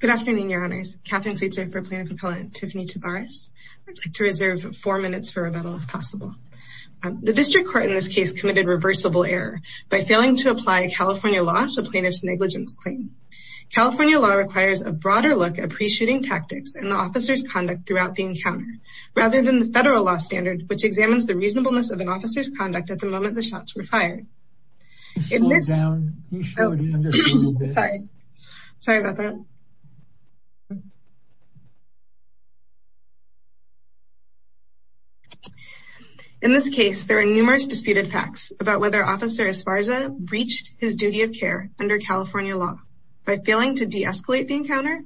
Good afternoon, your honors. Katherine Sweetser for plaintiff appellant Tiffany Tabares. I'd like to reserve four minutes for rebuttal if possible. The district court in this case committed reversible error by failing to apply California law to plaintiff's negligence claim. California law requires a broader look at pre-shooting tactics and the officer's conduct throughout the encounter rather than the federal law standard which examines the reasonableness of sorry sorry about that in this case there are numerous disputed facts about whether officer Esparza breached his duty of care under California law by failing to de-escalate the encounter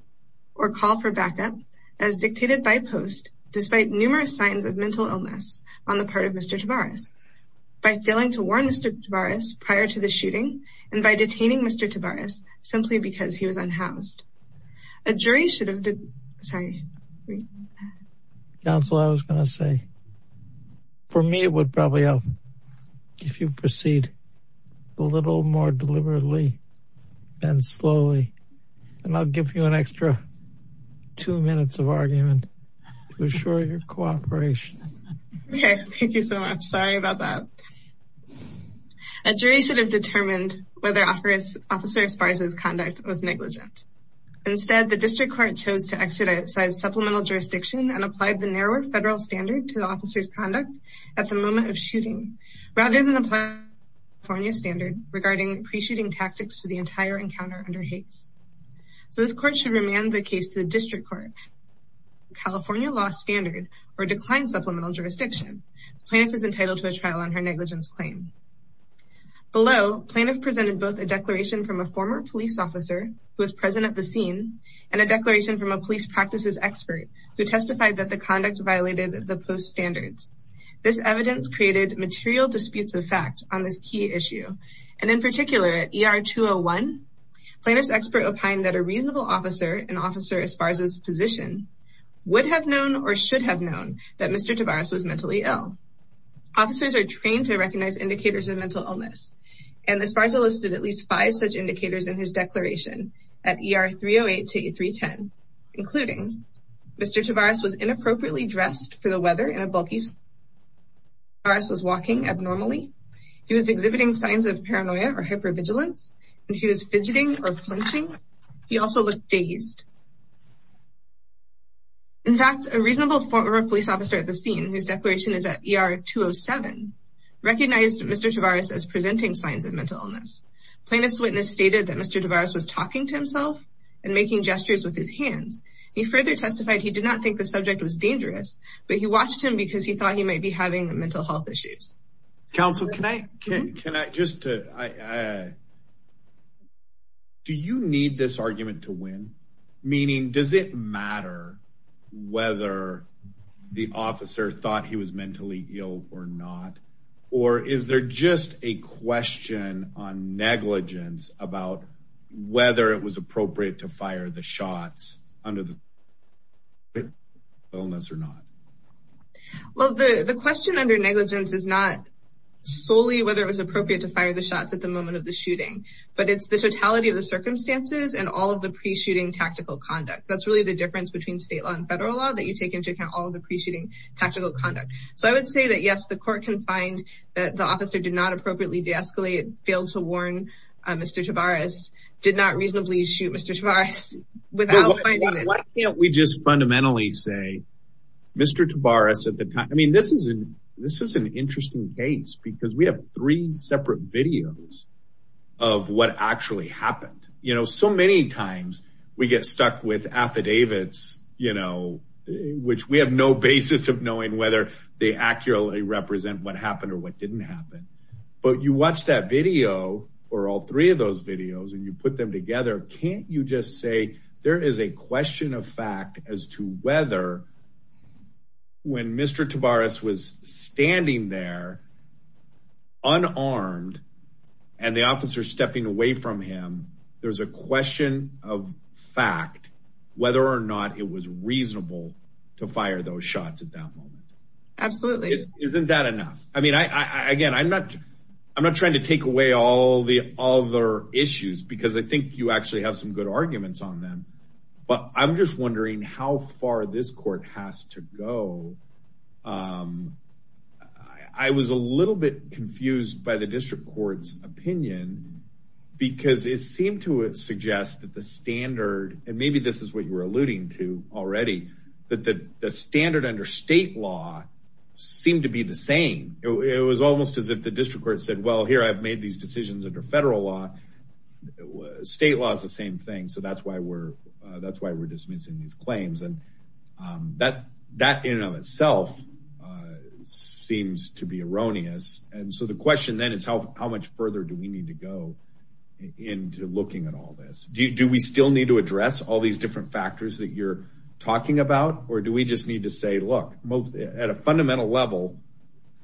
or call for backup as dictated by post despite numerous signs of mental illness on the part of Mr. Tavares by failing to warn Mr. Tavares prior to the shooting and by detaining Mr. Tavares simply because he was unhoused a jury should have sorry counsel I was gonna say for me it would probably help if you proceed a little more deliberately and slowly and I'll give you an extra two minutes of argument to assure your cooperation thank you so much sorry about that a jury should have determined whether officer Esparza's conduct was negligent instead the district court chose to exercise supplemental jurisdiction and applied the narrower federal standard to the officer's conduct at the moment of shooting rather than applying California standard regarding pre-shooting tactics to the entire encounter under Hays so this court should remand the case to the district court California law standard or decline supplemental jurisdiction plaintiff is entitled to a trial on her negligence claim below plaintiff presented both a declaration from a former police officer who was present at the scene and a declaration from a police practices expert who testified that the conduct violated the post standards this evidence created material disputes of fact on this key issue and in particular at er 201 plaintiff's expert opined that a reasonable officer an officer as far as his position would have known or should have known that Mr. Tavares was mentally ill officers are trained to recognize indicators of mental illness and as far as I listed at least five such indicators in his declaration at er 308 to 8 3 10 including Mr. Tavares was inappropriately dressed for the weather in a bulky virus was walking abnormally he was exhibiting signs of paranoia or hypervigilance and he was fidgeting or clenching he also looked dazed in fact a reasonable former police officer at the scene whose declaration is at er 207 recognized Mr. Tavares as presenting signs of mental illness plaintiff's witness stated that Mr. Tavares was talking to himself and making gestures with his hands he further testified he did not think the subject was dangerous but he watched him because he thought he might be having mental health issues council can I can can I just to I do you need this argument to win meaning does it matter whether the officer thought he was mentally ill or not or is there just a question on negligence about whether it was appropriate to fire the shots under the illness or not well the the question under negligence is not solely whether it was appropriate to fire the shots at the moment of the shooting but it's the totality of the circumstances and all of the pre-shooting tactical conduct that's really the difference between state law and federal law that you take into account all the pre-shooting tactical conduct so I would say that yes the court can find that the officer did not appropriately de-escalate failed to warn Mr. Tavares did not fundamentally say Mr. Tavares at the time I mean this is an this is an interesting case because we have three separate videos of what actually happened you know so many times we get stuck with affidavits you know which we have no basis of knowing whether they accurately represent what happened or what didn't happen but you watch that video or all three of those videos and you put them together can't you just say there is a question of fact as to whether when Mr. Tavares was standing there unarmed and the officer stepping away from him there's a question of fact whether or not it was reasonable to fire those shots at that moment absolutely isn't that enough I mean I again I'm not I'm not trying to take away all the other issues because I think you actually have some good arguments on them but I'm just wondering how far this court has to go I was a little bit confused by the district court's opinion because it seemed to suggest that the standard and maybe this is what you were alluding to already that the standard under state law seemed to be the same it was almost as if the district court said well here I've made these decisions under federal law state law is the same thing so that's why we're that's why we're dismissing these claims and that that in and of itself seems to be erroneous and so the question then is how how much further do we need to go into looking at all this do we still need to address all these different factors that you're talking about or do we just need to say look most at a fundamental level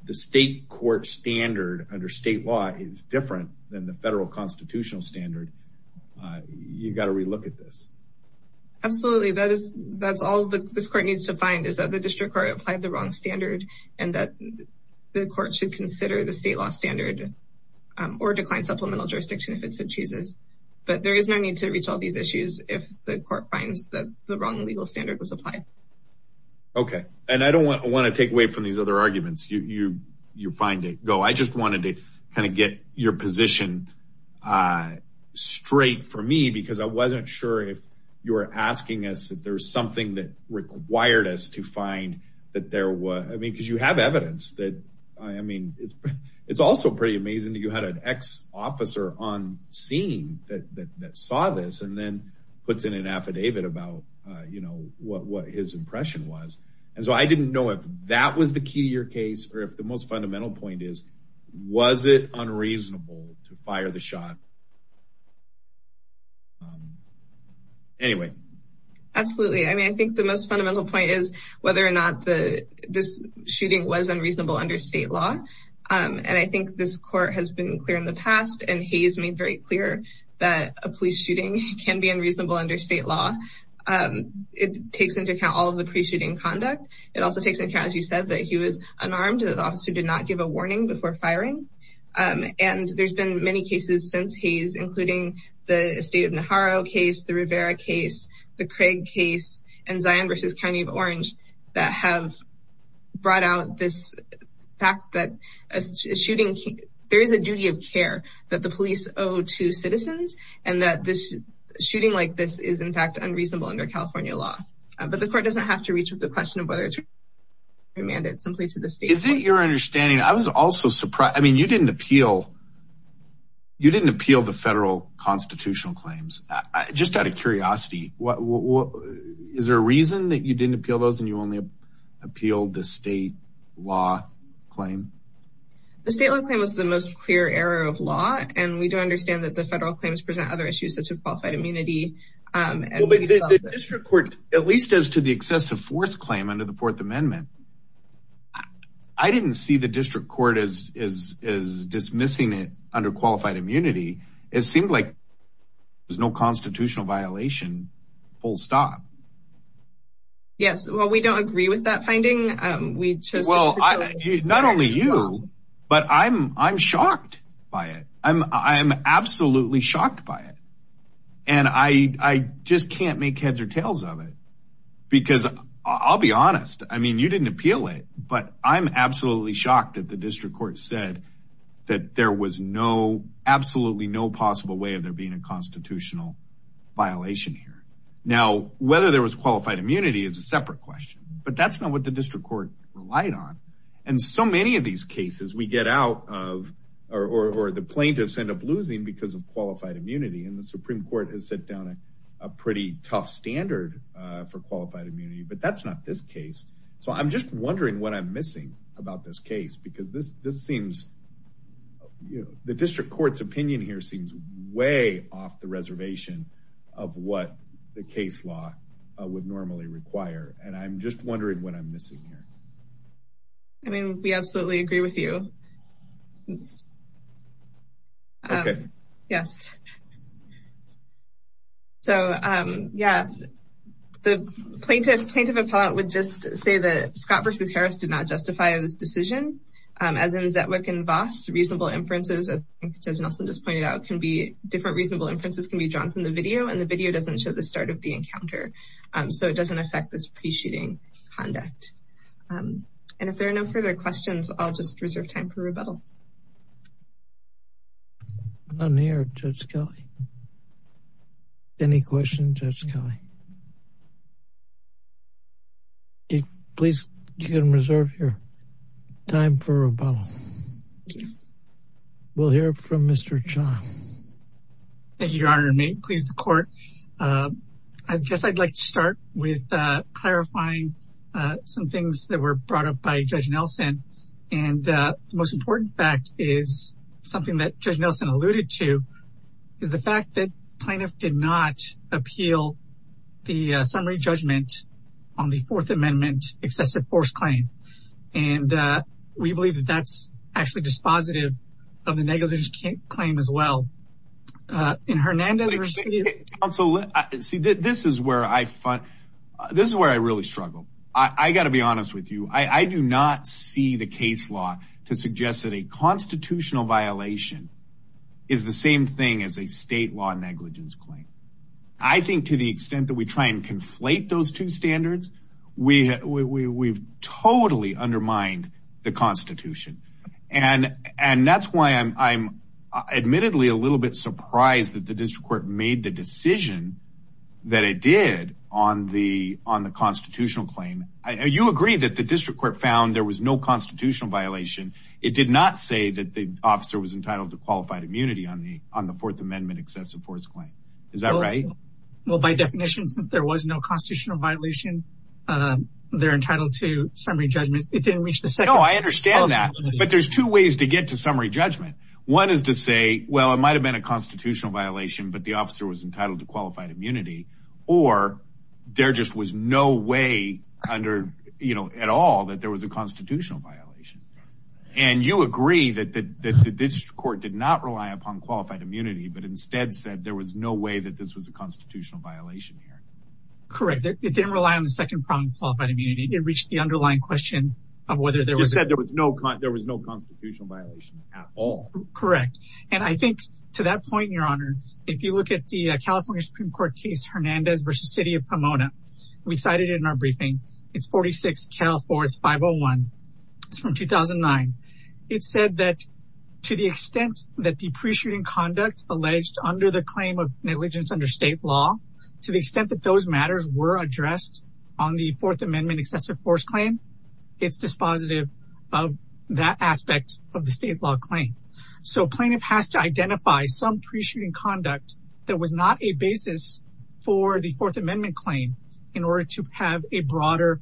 the state court standard under state law is different than the federal constitutional standard you've got to relook at this absolutely that is that's all the this court needs to find is that the district court applied the wrong standard and that the court should consider the state law standard or decline supplemental jurisdiction if it so chooses but there is no need to reach all these issues if the court finds that the wrong legal standard was applied okay and I don't want to take away from these other arguments you you find it go I just wanted to kind of get your position uh straight for me because I wasn't sure if you were asking us if there's something that required us to find that there was I mean because you have evidence that I mean it's it's also pretty amazing that you had an ex-officer on scene that that that saw this and then puts in an affidavit about uh you know what what his impression was and so I didn't know if that was the key to your case or if the most fundamental point is was it unreasonable to fire the shot um anyway absolutely I mean I think the most fundamental point is whether or not the this shooting was unreasonable under state law um and I think this court has been clear in the past and Hayes made very clear that a police shooting can be unreasonable under state law um it takes into account all of the pre-shooting conduct it also takes into account as you said that he was unarmed that the officer did not give a warning before firing um and there's been many cases since Hayes including the estate of Naharo case the Rivera case the Craig case and Zion versus County of Orange that have brought out this fact that a shooting there is a duty of care that the police owe to citizens and that this shooting like this is in fact unreasonable under California law but the court doesn't have to reach with the question of whether it's mandate simply to the state is it your understanding I was also surprised I mean you didn't appeal you didn't appeal the federal constitutional claims I just out of curiosity what what is there a reason that you didn't appeal those and you only appealed the state law claim the state law claim was the most clear error of law and we do understand that the federal claims present other issues such as qualified immunity um at least as to the excessive force claim under the fourth amendment I didn't see the district court as as as dismissing it under qualified immunity it seemed like there's no constitutional violation full stop yes well we don't agree with that finding um we chose well not only you but I'm I'm shocked by it I'm I'm absolutely shocked by it and I I just can't make heads or tails of it because I'll be honest I mean you didn't appeal it but I'm absolutely shocked that the district court said that there was no absolutely no possible way of there being a constitutional violation here now whether there was qualified immunity is a separate question but that's not what the district court relied on and so many of these cases we get out of or or the plaintiffs end up losing because of qualified immunity and the supreme court has set down a pretty tough standard uh for qualified immunity but that's not this case so I'm just wondering what I'm missing about this case because this this seems you know the district court's opinion here seems way off the reservation of what the case law would normally require and I'm just wondering what I'm missing here I mean we absolutely agree with you okay yes so um yeah the plaintiff plaintiff appellate would just say that Scott versus Harris did not justify this decision um as in Zetwick and Voss reasonable inferences as Nelson just pointed out can be different reasonable inferences can be drawn from the video and the video doesn't show the start of the encounter um so it doesn't affect this pre-shooting conduct um and if there are no further questions I'll just reserve time for rebuttal I'm here Judge Kelly any question Judge Kelly please you can reserve your time for rebuttal we'll hear from Mr. Chong thank you your honor may it please the court uh I guess I'd like to start with uh clarifying some things that were brought up by Judge Nelson and uh the most important fact is something that Judge Nelson alluded to is the fact that plaintiff did not appeal the uh summary judgment on the fourth amendment excessive force claim and uh we believe that that's actually dispositive of the negligence claim as well uh in Hernandez so see this is where I find this is where I really struggle I I got to be honest with you I I do not see the case law to suggest that a constitutional violation is the same thing as a state law negligence claim I think to the extent that we try and conflate those two standards we we we've totally undermined the constitution and and that's why I'm I'm admittedly a little bit surprised that the district court made the decision that it did on the on the constitutional claim you agree that the district court found there was no constitutional violation it did not say that the officer was entitled to qualified immunity on the on the fourth amendment excessive force claim is that right well by definition since there was no constitutional violation um they're entitled to summary judgment it didn't reach the second oh I understand that but there's two ways to get to summary judgment one is to say well it might have been a constitutional violation but the officer was entitled to qualified immunity or there just was no way under you know at all that there was a constitutional violation and you agree that that that the district court did not rely upon qualified immunity but instead said there was no way that this was a constitutional violation here correct it didn't rely on the second prong qualified immunity it reached the underlying question of whether there was said there was no there was no constitutional violation at all correct and I think to that point your honor if you look at the california supreme court case hernandez versus city of pomona we cited in our briefing it's 46 cal fourth 501 it's from 2009 it said that to the extent that the pre-shooting conduct alleged under the claim of negligence under state law to the extent that those matters were addressed on the fourth amendment excessive force claim it's dispositive of that aspect of the state law claim so plaintiff has to identify some pre-shooting conduct that was not a basis for the fourth amendment claim in order to have a broader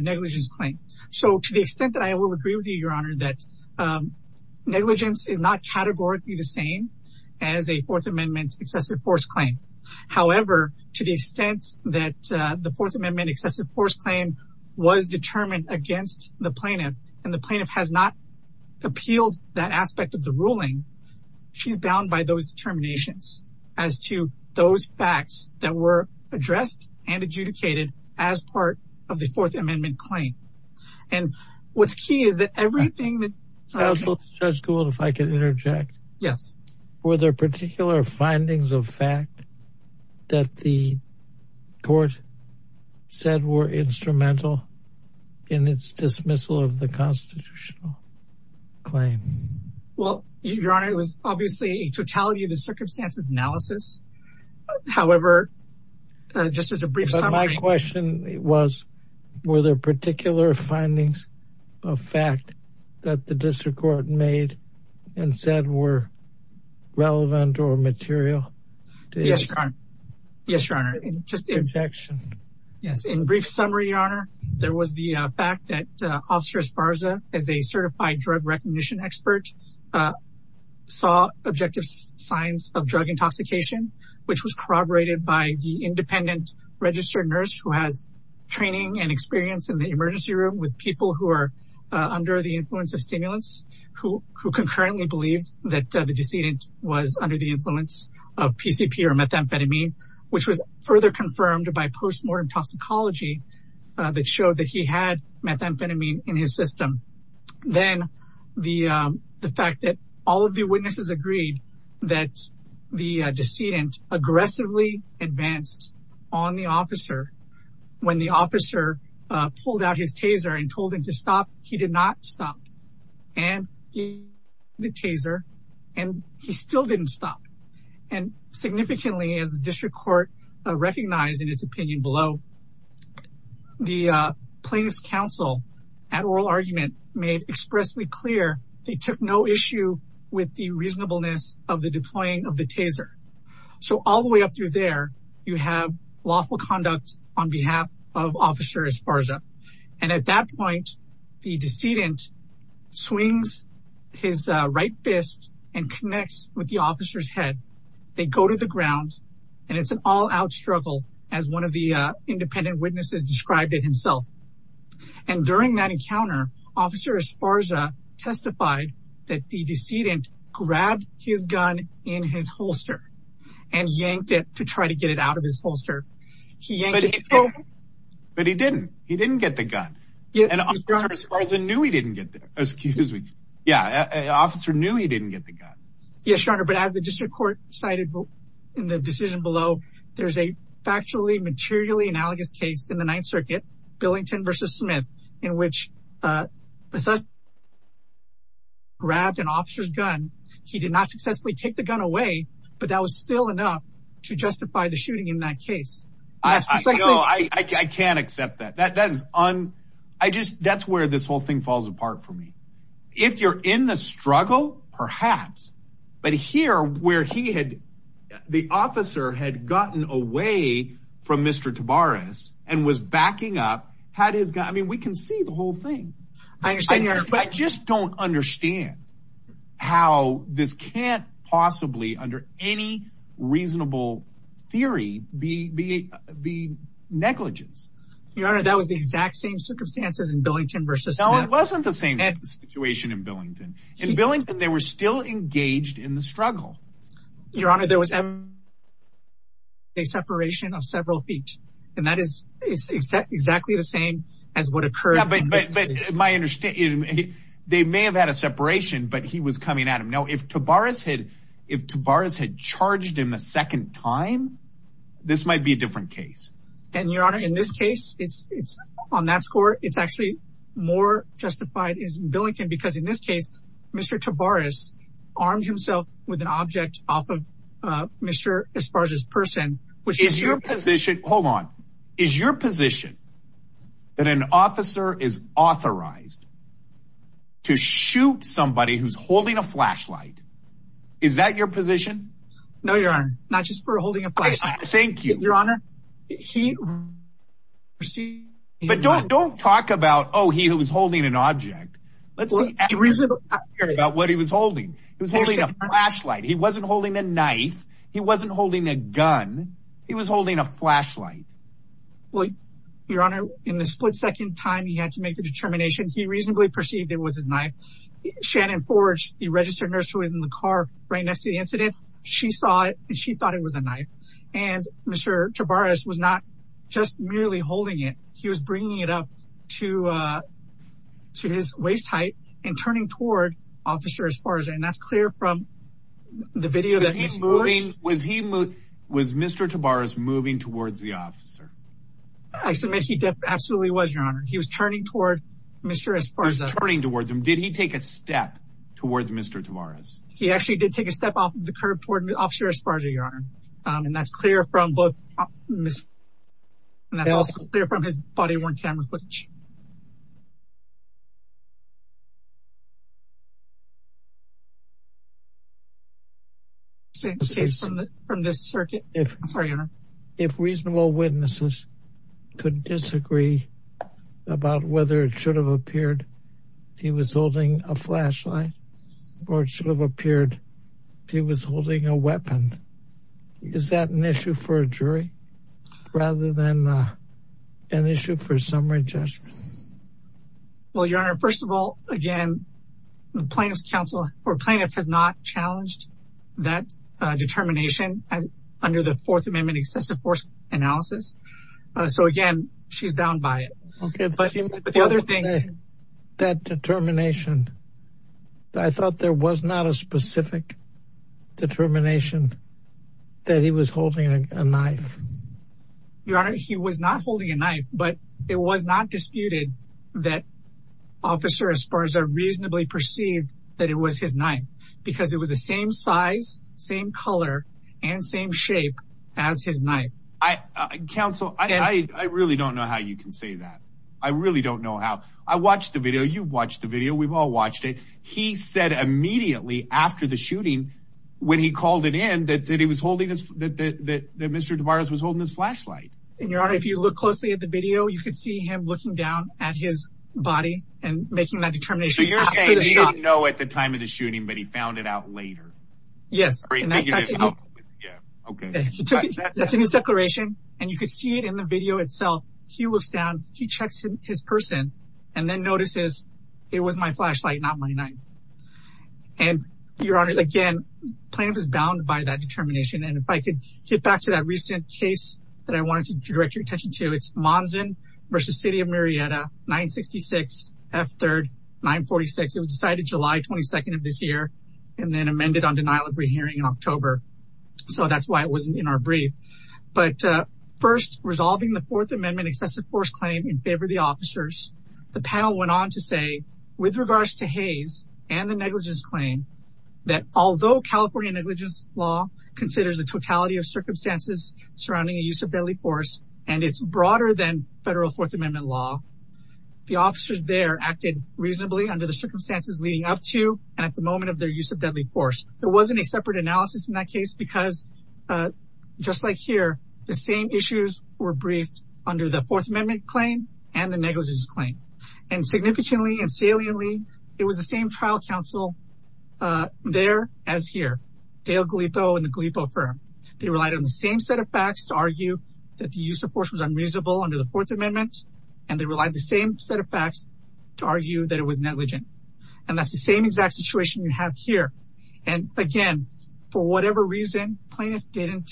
negligence claim so to the extent that I will agree with you your honor that negligence is not categorically the same as a fourth amendment excessive force claim however to the extent that the fourth amendment excessive force claim was determined against the plaintiff and the plaintiff has not appealed that aspect of the ruling she's bound by those determinations as to those facts that were addressed and adjudicated as part of the fourth amendment claim and what's key is that everything that if I could interject yes were there particular findings of fact that the court said were instrumental in its dismissal of the constitutional claim well your honor it was obviously a totality of the circumstances analysis however just as a brief summary my question was were there particular findings of fact that the district court made and said were relevant or material yes your honor just yes in brief summary your honor there was the fact that officer esparza as a certified drug recognition expert saw objective signs of drug intoxication which was corroborated by the independent registered nurse who has training and experience in the emergency room with people who under the influence of stimulants who who concurrently believed that the decedent was under the influence of pcp or methamphetamine which was further confirmed by post-mortem toxicology that showed that he had methamphetamine in his system then the the fact that all of the witnesses agreed that the decedent aggressively advanced on the officer when the officer pulled out his taser and told him to stop he did not stop and the taser and he still didn't stop and significantly as the district court recognized in its opinion below the plaintiff's counsel at oral argument made expressly clear they took no issue with the reasonableness of the deploying of the taser so all the way up through there you have lawful conduct on behalf of officer esparza and at that point the decedent swings his right fist and connects with the officer's head they go to the ground and it's an all-out struggle as one of the uh independent witnesses described it himself and during that encounter officer esparza testified that the decedent grabbed his gun in his holster and yanked it to try to get it out of his holster he yanked it but he didn't he didn't get the gun yeah and officer esparza knew he didn't get there excuse me yeah an officer knew he didn't get the gun yes your honor but as the district court cited in the decision below there's a factually materially analogous case in the ninth circuit billington versus smith in which uh grabbed an officer's gun he did not successfully take the case i know i i can't accept that that that is on i just that's where this whole thing falls apart for me if you're in the struggle perhaps but here where he had the officer had gotten away from mr tabaris and was backing up had his guy i mean we can see the whole thing i understand here i just don't understand how this can't possibly under any reasonable theory be be be negligence your honor that was the exact same circumstances in billington versus no it wasn't the same situation in billington in billington they were still engaged in the struggle your honor there was a separation of several feet and that is exactly the same as what occurred but but my understanding they may have had a separation but he was coming at him now if tabaris had if tabaris had charged him a second time this might be a different case and your honor in this case it's it's on that score it's actually more justified is billington because in this case mr tabaris armed himself with an object off of uh mr as far as his person which is your position hold on is your position that an officer is authorized to shoot somebody who's holding a flashlight is that your position no your honor not just for holding a place thank you your honor he but don't don't talk about oh he who was holding an object let's see about what he was holding he was holding a flashlight he wasn't holding a knife he wasn't holding a gun he was holding a flashlight well your honor in the split second time he had to make the determination he reasonably perceived it was his knife shannon forged the registered nurse who was in the car right next to the incident she saw it and she thought it was a knife and mr tabaris was not just merely holding it he was bringing it up to uh to his waist height and turning toward officer as far as and that's clear from the video that he's moving was he moved was mr tabaris moving towards the officer i submit he definitely absolutely was your honor he was turning toward mr as far as turning towards him did he take a step towards mr tabaris he actually did take a step off the curb toward the officer as far as your honor um and that's clear from both and that's also clear from his body worn camera footage from this circuit i'm sorry if reasonable witnesses could disagree about whether it should have appeared he was holding a flashlight or it should have appeared he was holding a weapon is that an issue for a jury rather than an issue for summary judgment well your honor first of all again the plaintiff's counsel or plaintiff has not challenged that determination as under the fourth amendment excessive force analysis so again she's bound by it okay but the other thing that determination i thought there was not a specific determination that he was holding a knife your honor he was not holding a knife but it was not disputed that officer as far as i reasonably perceived that it was his knife because it was the same size same color and same shape as his knife i counsel i i really don't know how you can say that i really don't know how i watched the video you've watched the video we've all watched it he said immediately after the shooting when he and your honor if you look closely at the video you could see him looking down at his body and making that determination so you're saying he didn't know at the time of the shooting but he found it out later yes okay that's in his declaration and you could see it in the video itself he looks down he checks his person and then notices it was my flashlight not my knife and your honor again plaintiff is bound by that determination and if i could get back to that recent case that i wanted to direct your attention to it's monson versus city of marietta 966 f third 946 it was decided july 22nd of this year and then amended on denial of rehearing in october so that's why it wasn't in our brief but uh first resolving the fourth amendment excessive force claim in favor of the officers the panel went on to say with regards to haze and the negligence claim that although california negligence law considers the totality of circumstances surrounding the use of deadly force and it's broader than federal fourth amendment law the officers there acted reasonably under the circumstances leading up to and at the moment of their use of deadly force there wasn't a separate analysis in that case because uh just like here the same issues were briefed under the fourth amendment claim and the negligence claim and significantly and saliently it was the same trial counsel uh there as here dale galipo and they relied on the same set of facts to argue that the use of force was unreasonable under the fourth amendment and they relied the same set of facts to argue that it was negligent and that's the same exact situation you have here and again for whatever reason plaintiff didn't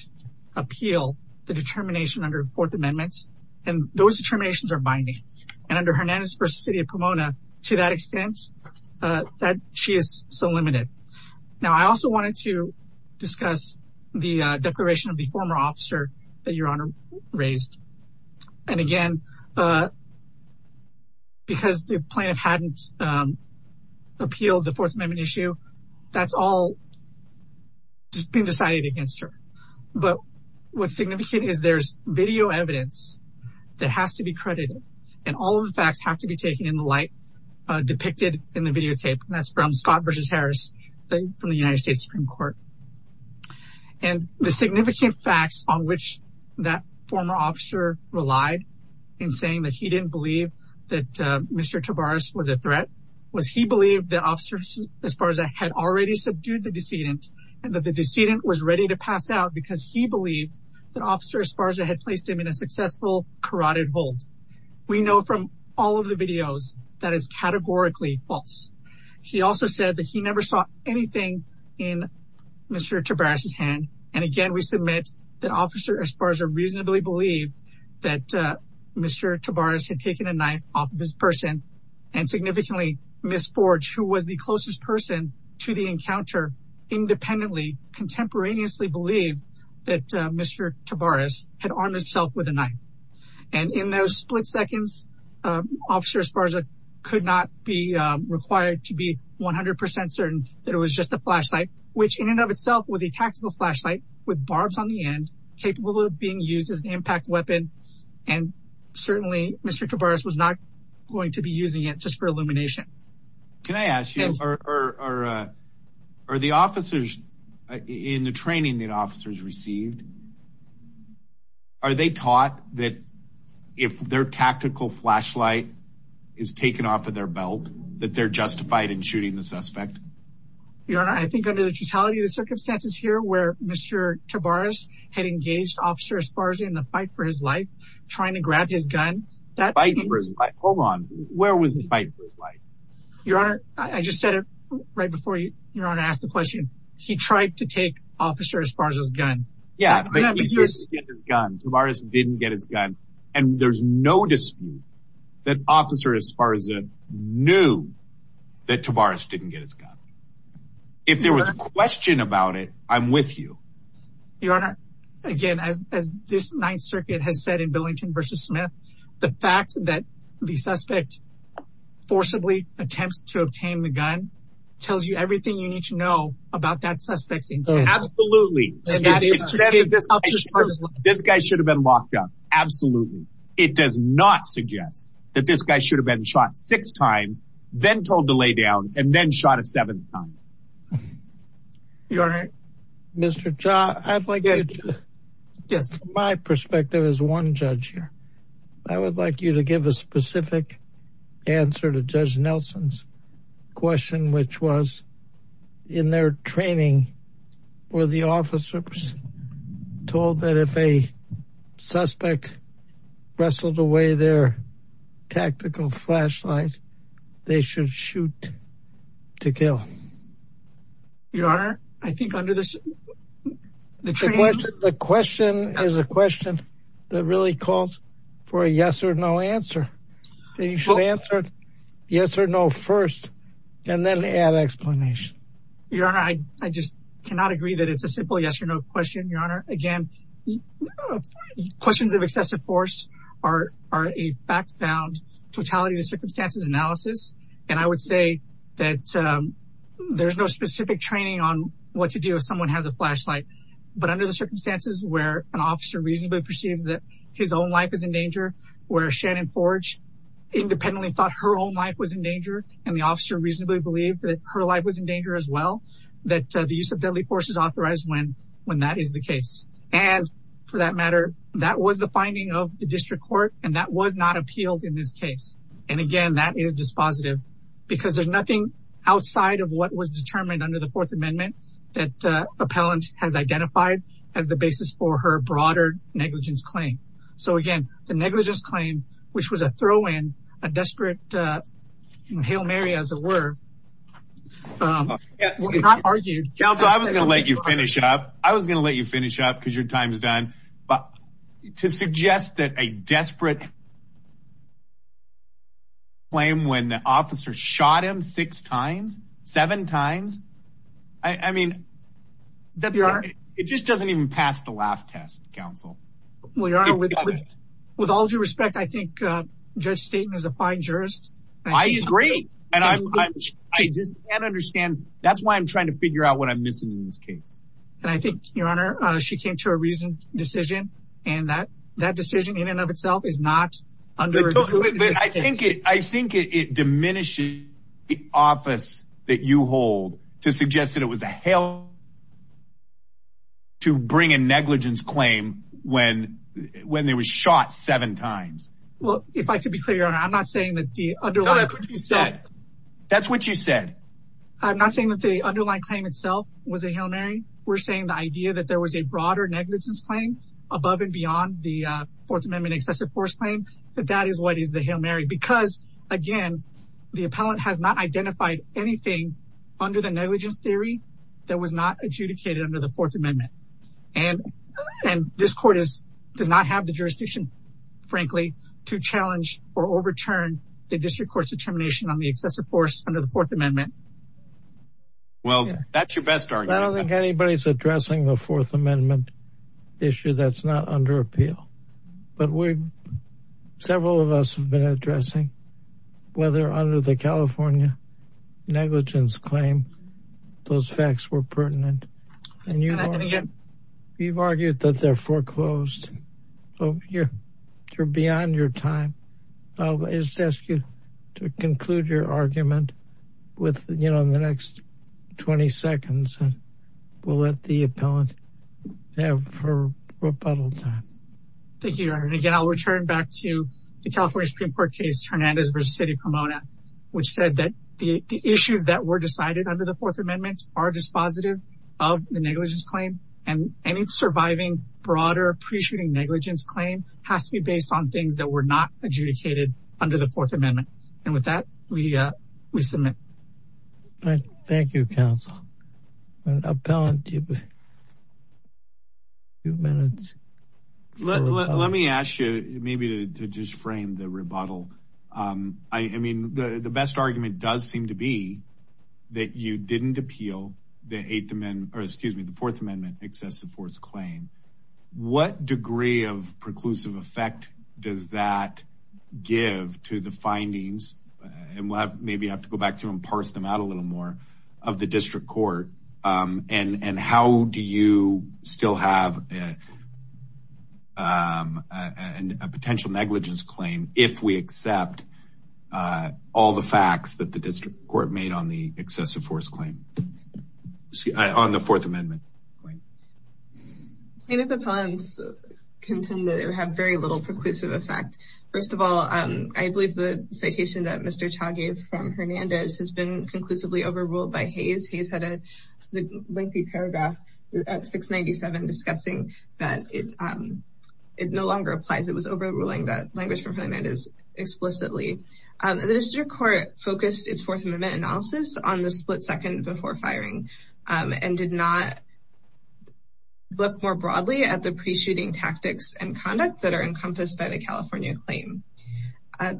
appeal the determination under the fourth amendment and those determinations are binding and under hernandez city of pomona to that extent uh that she is so limited now i also wanted to discuss the declaration of the former officer that your honor raised and again uh because the plaintiff hadn't appealed the fourth amendment issue that's all just been decided against her but what's in the light uh depicted in the videotape and that's from scott versus harris from the united states supreme court and the significant facts on which that former officer relied in saying that he didn't believe that uh mr tavares was a threat was he believed that officers as far as i had already subdued the decedent and that the decedent was ready to pass out because he believed that had placed him in a successful carotid hold we know from all of the videos that is categorically false he also said that he never saw anything in mr tabrash's hand and again we submit that officer as far as i reasonably believe that uh mr tabrash had taken a knife off of his person and significantly miss forge who was the closest person to the encounter independently contemporaneously believed that mr tabrash had armed himself with a knife and in those split seconds uh officer as far as i could not be required to be 100 certain that it was just a flashlight which in and of itself was a tactical flashlight with barbs on the end capable of being used as an impact weapon and certainly mr tabrash was not going to be using it just for illumination can i ask you or or uh are the officers in the training that officers received are they taught that if their tactical flashlight is taken off of their belt that they're justified in shooting the suspect your honor i think under the totality of the circumstances here where mr tabrash had engaged officer as far as in the fight for his life trying to grab his gun that hold on where was the fight for his life your honor i just said it right before you your honor asked the question he tried to take officer as far as his gun yeah tabrash didn't get his gun and there's no dispute that officer as far as it knew that tabrash didn't get his gun if there was a question about it i'm with you your honor again as this ninth circuit has said in billington versus smith the fact that the suspect forcibly attempts to obtain the gun tells you everything you need to know about that suspect's intent absolutely this guy should have been locked up absolutely it does not suggest that this guy should have been shot six times then told to lay down and then shot a seventh time your honor mr jaw i'd like to yes from my perspective as one judge here i would like you to give a specific answer to judge nelson's question which was in their training were the officers told that if a suspect wrestled away their tactical flashlight they should shoot to kill your honor i think under this the question the question is a question that really calls for a yes or no answer you should answer yes or no first and then add explanation your honor i i just cannot agree that it's a simple yes or no question your honor again questions of excessive force are are a backbound totality of circumstances analysis and i would say that um there's no specific training on what to do if someone has a flashlight but under the circumstances where an officer reasonably perceives that his own life is in danger where shannon forge independently thought her own life was in danger and the officer reasonably believed that her life was in danger as well that the use of deadly force is authorized when when that is the case and for that matter that was the finding of the district court and that was not appealed in this case and again that is dispositive because there's nothing outside of what was determined under the fourth amendment that uh appellant has identified as the basis for her broader negligence claim so again the negligence claim which was a throw-in a desperate uh hail mary as it were um not argued council i was gonna let you finish up i was gonna suggest that a desperate claim when the officer shot him six times seven times i i mean that it just doesn't even pass the laugh test council well your honor with all due respect i think uh judge staton is a fine jurist i agree and i just can't understand that's why i'm trying to figure out what i'm missing in that decision in and of itself is not under i think it i think it diminishes the office that you hold to suggest that it was a hell to bring a negligence claim when when there was shot seven times well if i could be clear on i'm not saying that the underlying that's what you said i'm not saying that the underlying claim itself was a hillary we're saying the idea that there was a broader negligence claim above and beyond the fourth amendment excessive force claim that that is what is the hail mary because again the appellant has not identified anything under the negligence theory that was not adjudicated under the fourth amendment and and this court is does not have the jurisdiction frankly to challenge or overturn the district court's determination on the excessive force under the fourth amendment well that's your best argument i don't think anybody's addressing the not under appeal but we've several of us have been addressing whether under the california negligence claim those facts were pertinent and you're not gonna get you've argued that they're foreclosed so you're you're beyond your time i'll just ask you to conclude your argument with you know in the next 20 seconds and we'll let the appellant have her rebuttal time thank you and again i'll return back to the california supreme court case hernandez versus city pomona which said that the the issues that were decided under the fourth amendment are dispositive of the negligence claim and any surviving broader appreciating negligence claim has to be based on things that were not adjudicated under the fourth amendment and with that we uh we submit all right thank you counsel an appellant two minutes let me ask you maybe to just frame the rebuttal um i mean the the best argument does seem to be that you didn't appeal the eighth amendment or excuse me the fourth amendment excessive force claim what degree of preclusive effect does that give to the findings and we'll have maybe have to go back to and parse them out a little more of the district court um and and how do you still have a um a potential negligence claim if we accept uh all the facts that the district court made on the excessive force claim see i on the fourth amendment plaintiff appellants contend that they have very little preclusive effect first of all um i believe the citation that mr chow gave from hernandez has been conclusively overruled by hayes he's had a lengthy paragraph at 697 discussing that it um it no longer applies it was overruling that language from hernandez explicitly um the district court focused its fourth amendment analysis on the second before firing um and did not look more broadly at the pre-shooting tactics and conduct that are encompassed by the california claim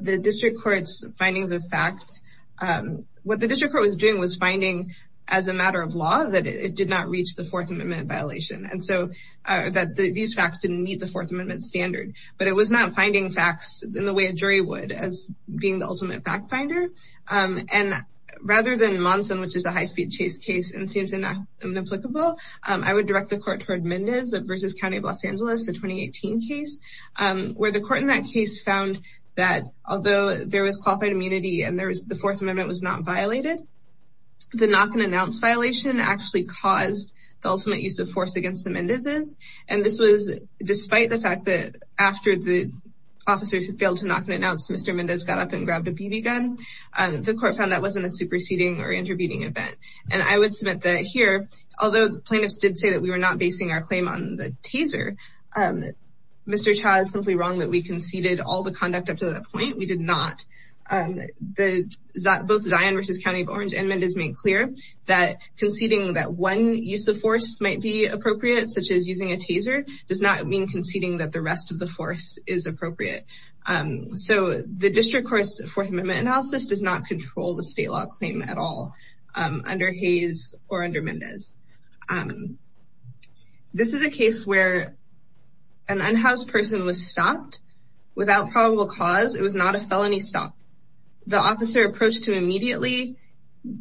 the district court's findings of fact um what the district court was doing was finding as a matter of law that it did not reach the fourth amendment violation and so that these facts didn't meet the fourth amendment standard but it was not finding facts in the way a jury would as being the ultimate fact finder um and rather than monson which is a high-speed chase case and seems inapplicable i would direct the court toward mendez versus county of los angeles the 2018 case um where the court in that case found that although there was qualified immunity and there was the fourth amendment was not violated the knock and announce violation actually caused the ultimate use of force against the mendez's and this was despite the fact that after the officers who failed to knock and announce mr mendez got up and grabbed a bb gun um the court found that wasn't a superseding or intervening event and i would submit that here although the plaintiffs did say that we were not basing our claim on the taser um mr cha is simply wrong that we conceded all the conduct up to that point we did not um the both zion versus county of orange and mendez made clear that conceding that one use of force might be appropriate such as using a taser does not mean conceding that the rest of the force is appropriate um so the district court's fourth amendment analysis does not control the state law claim at all under hayes or under mendez um this is a case where an unhoused person was stopped without probable cause it was not a felony stop the officer approached him immediately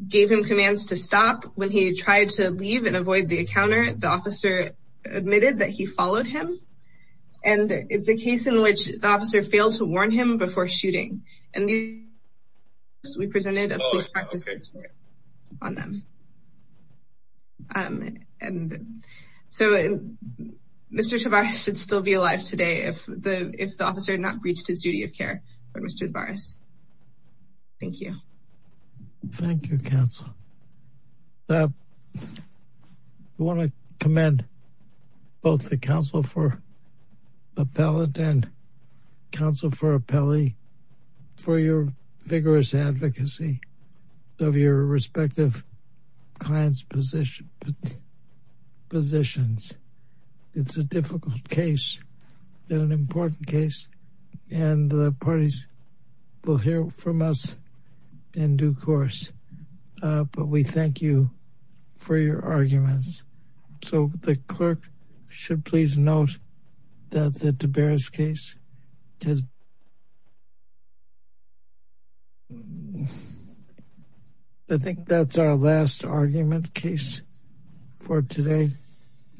gave him commands to stop when he tried to leave and avoid the encounter the officer admitted that he followed him and it's a case in which the officer failed to warn him before shooting and these we presented a police practice on them um and so mr tavar should still be alive today if the if the officer had not breached his duty of thank you thank you council uh i want to commend both the council for appellate and council for appellee for your vigorous advocacy of your respective clients position but positions it's a difficult case and an important case and the parties will hear from us in due course uh but we thank you for your arguments so the clerk should please note that the debarras case has i think that's our last argument case for today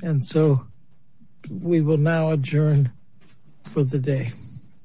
and so we will now adjourn for the day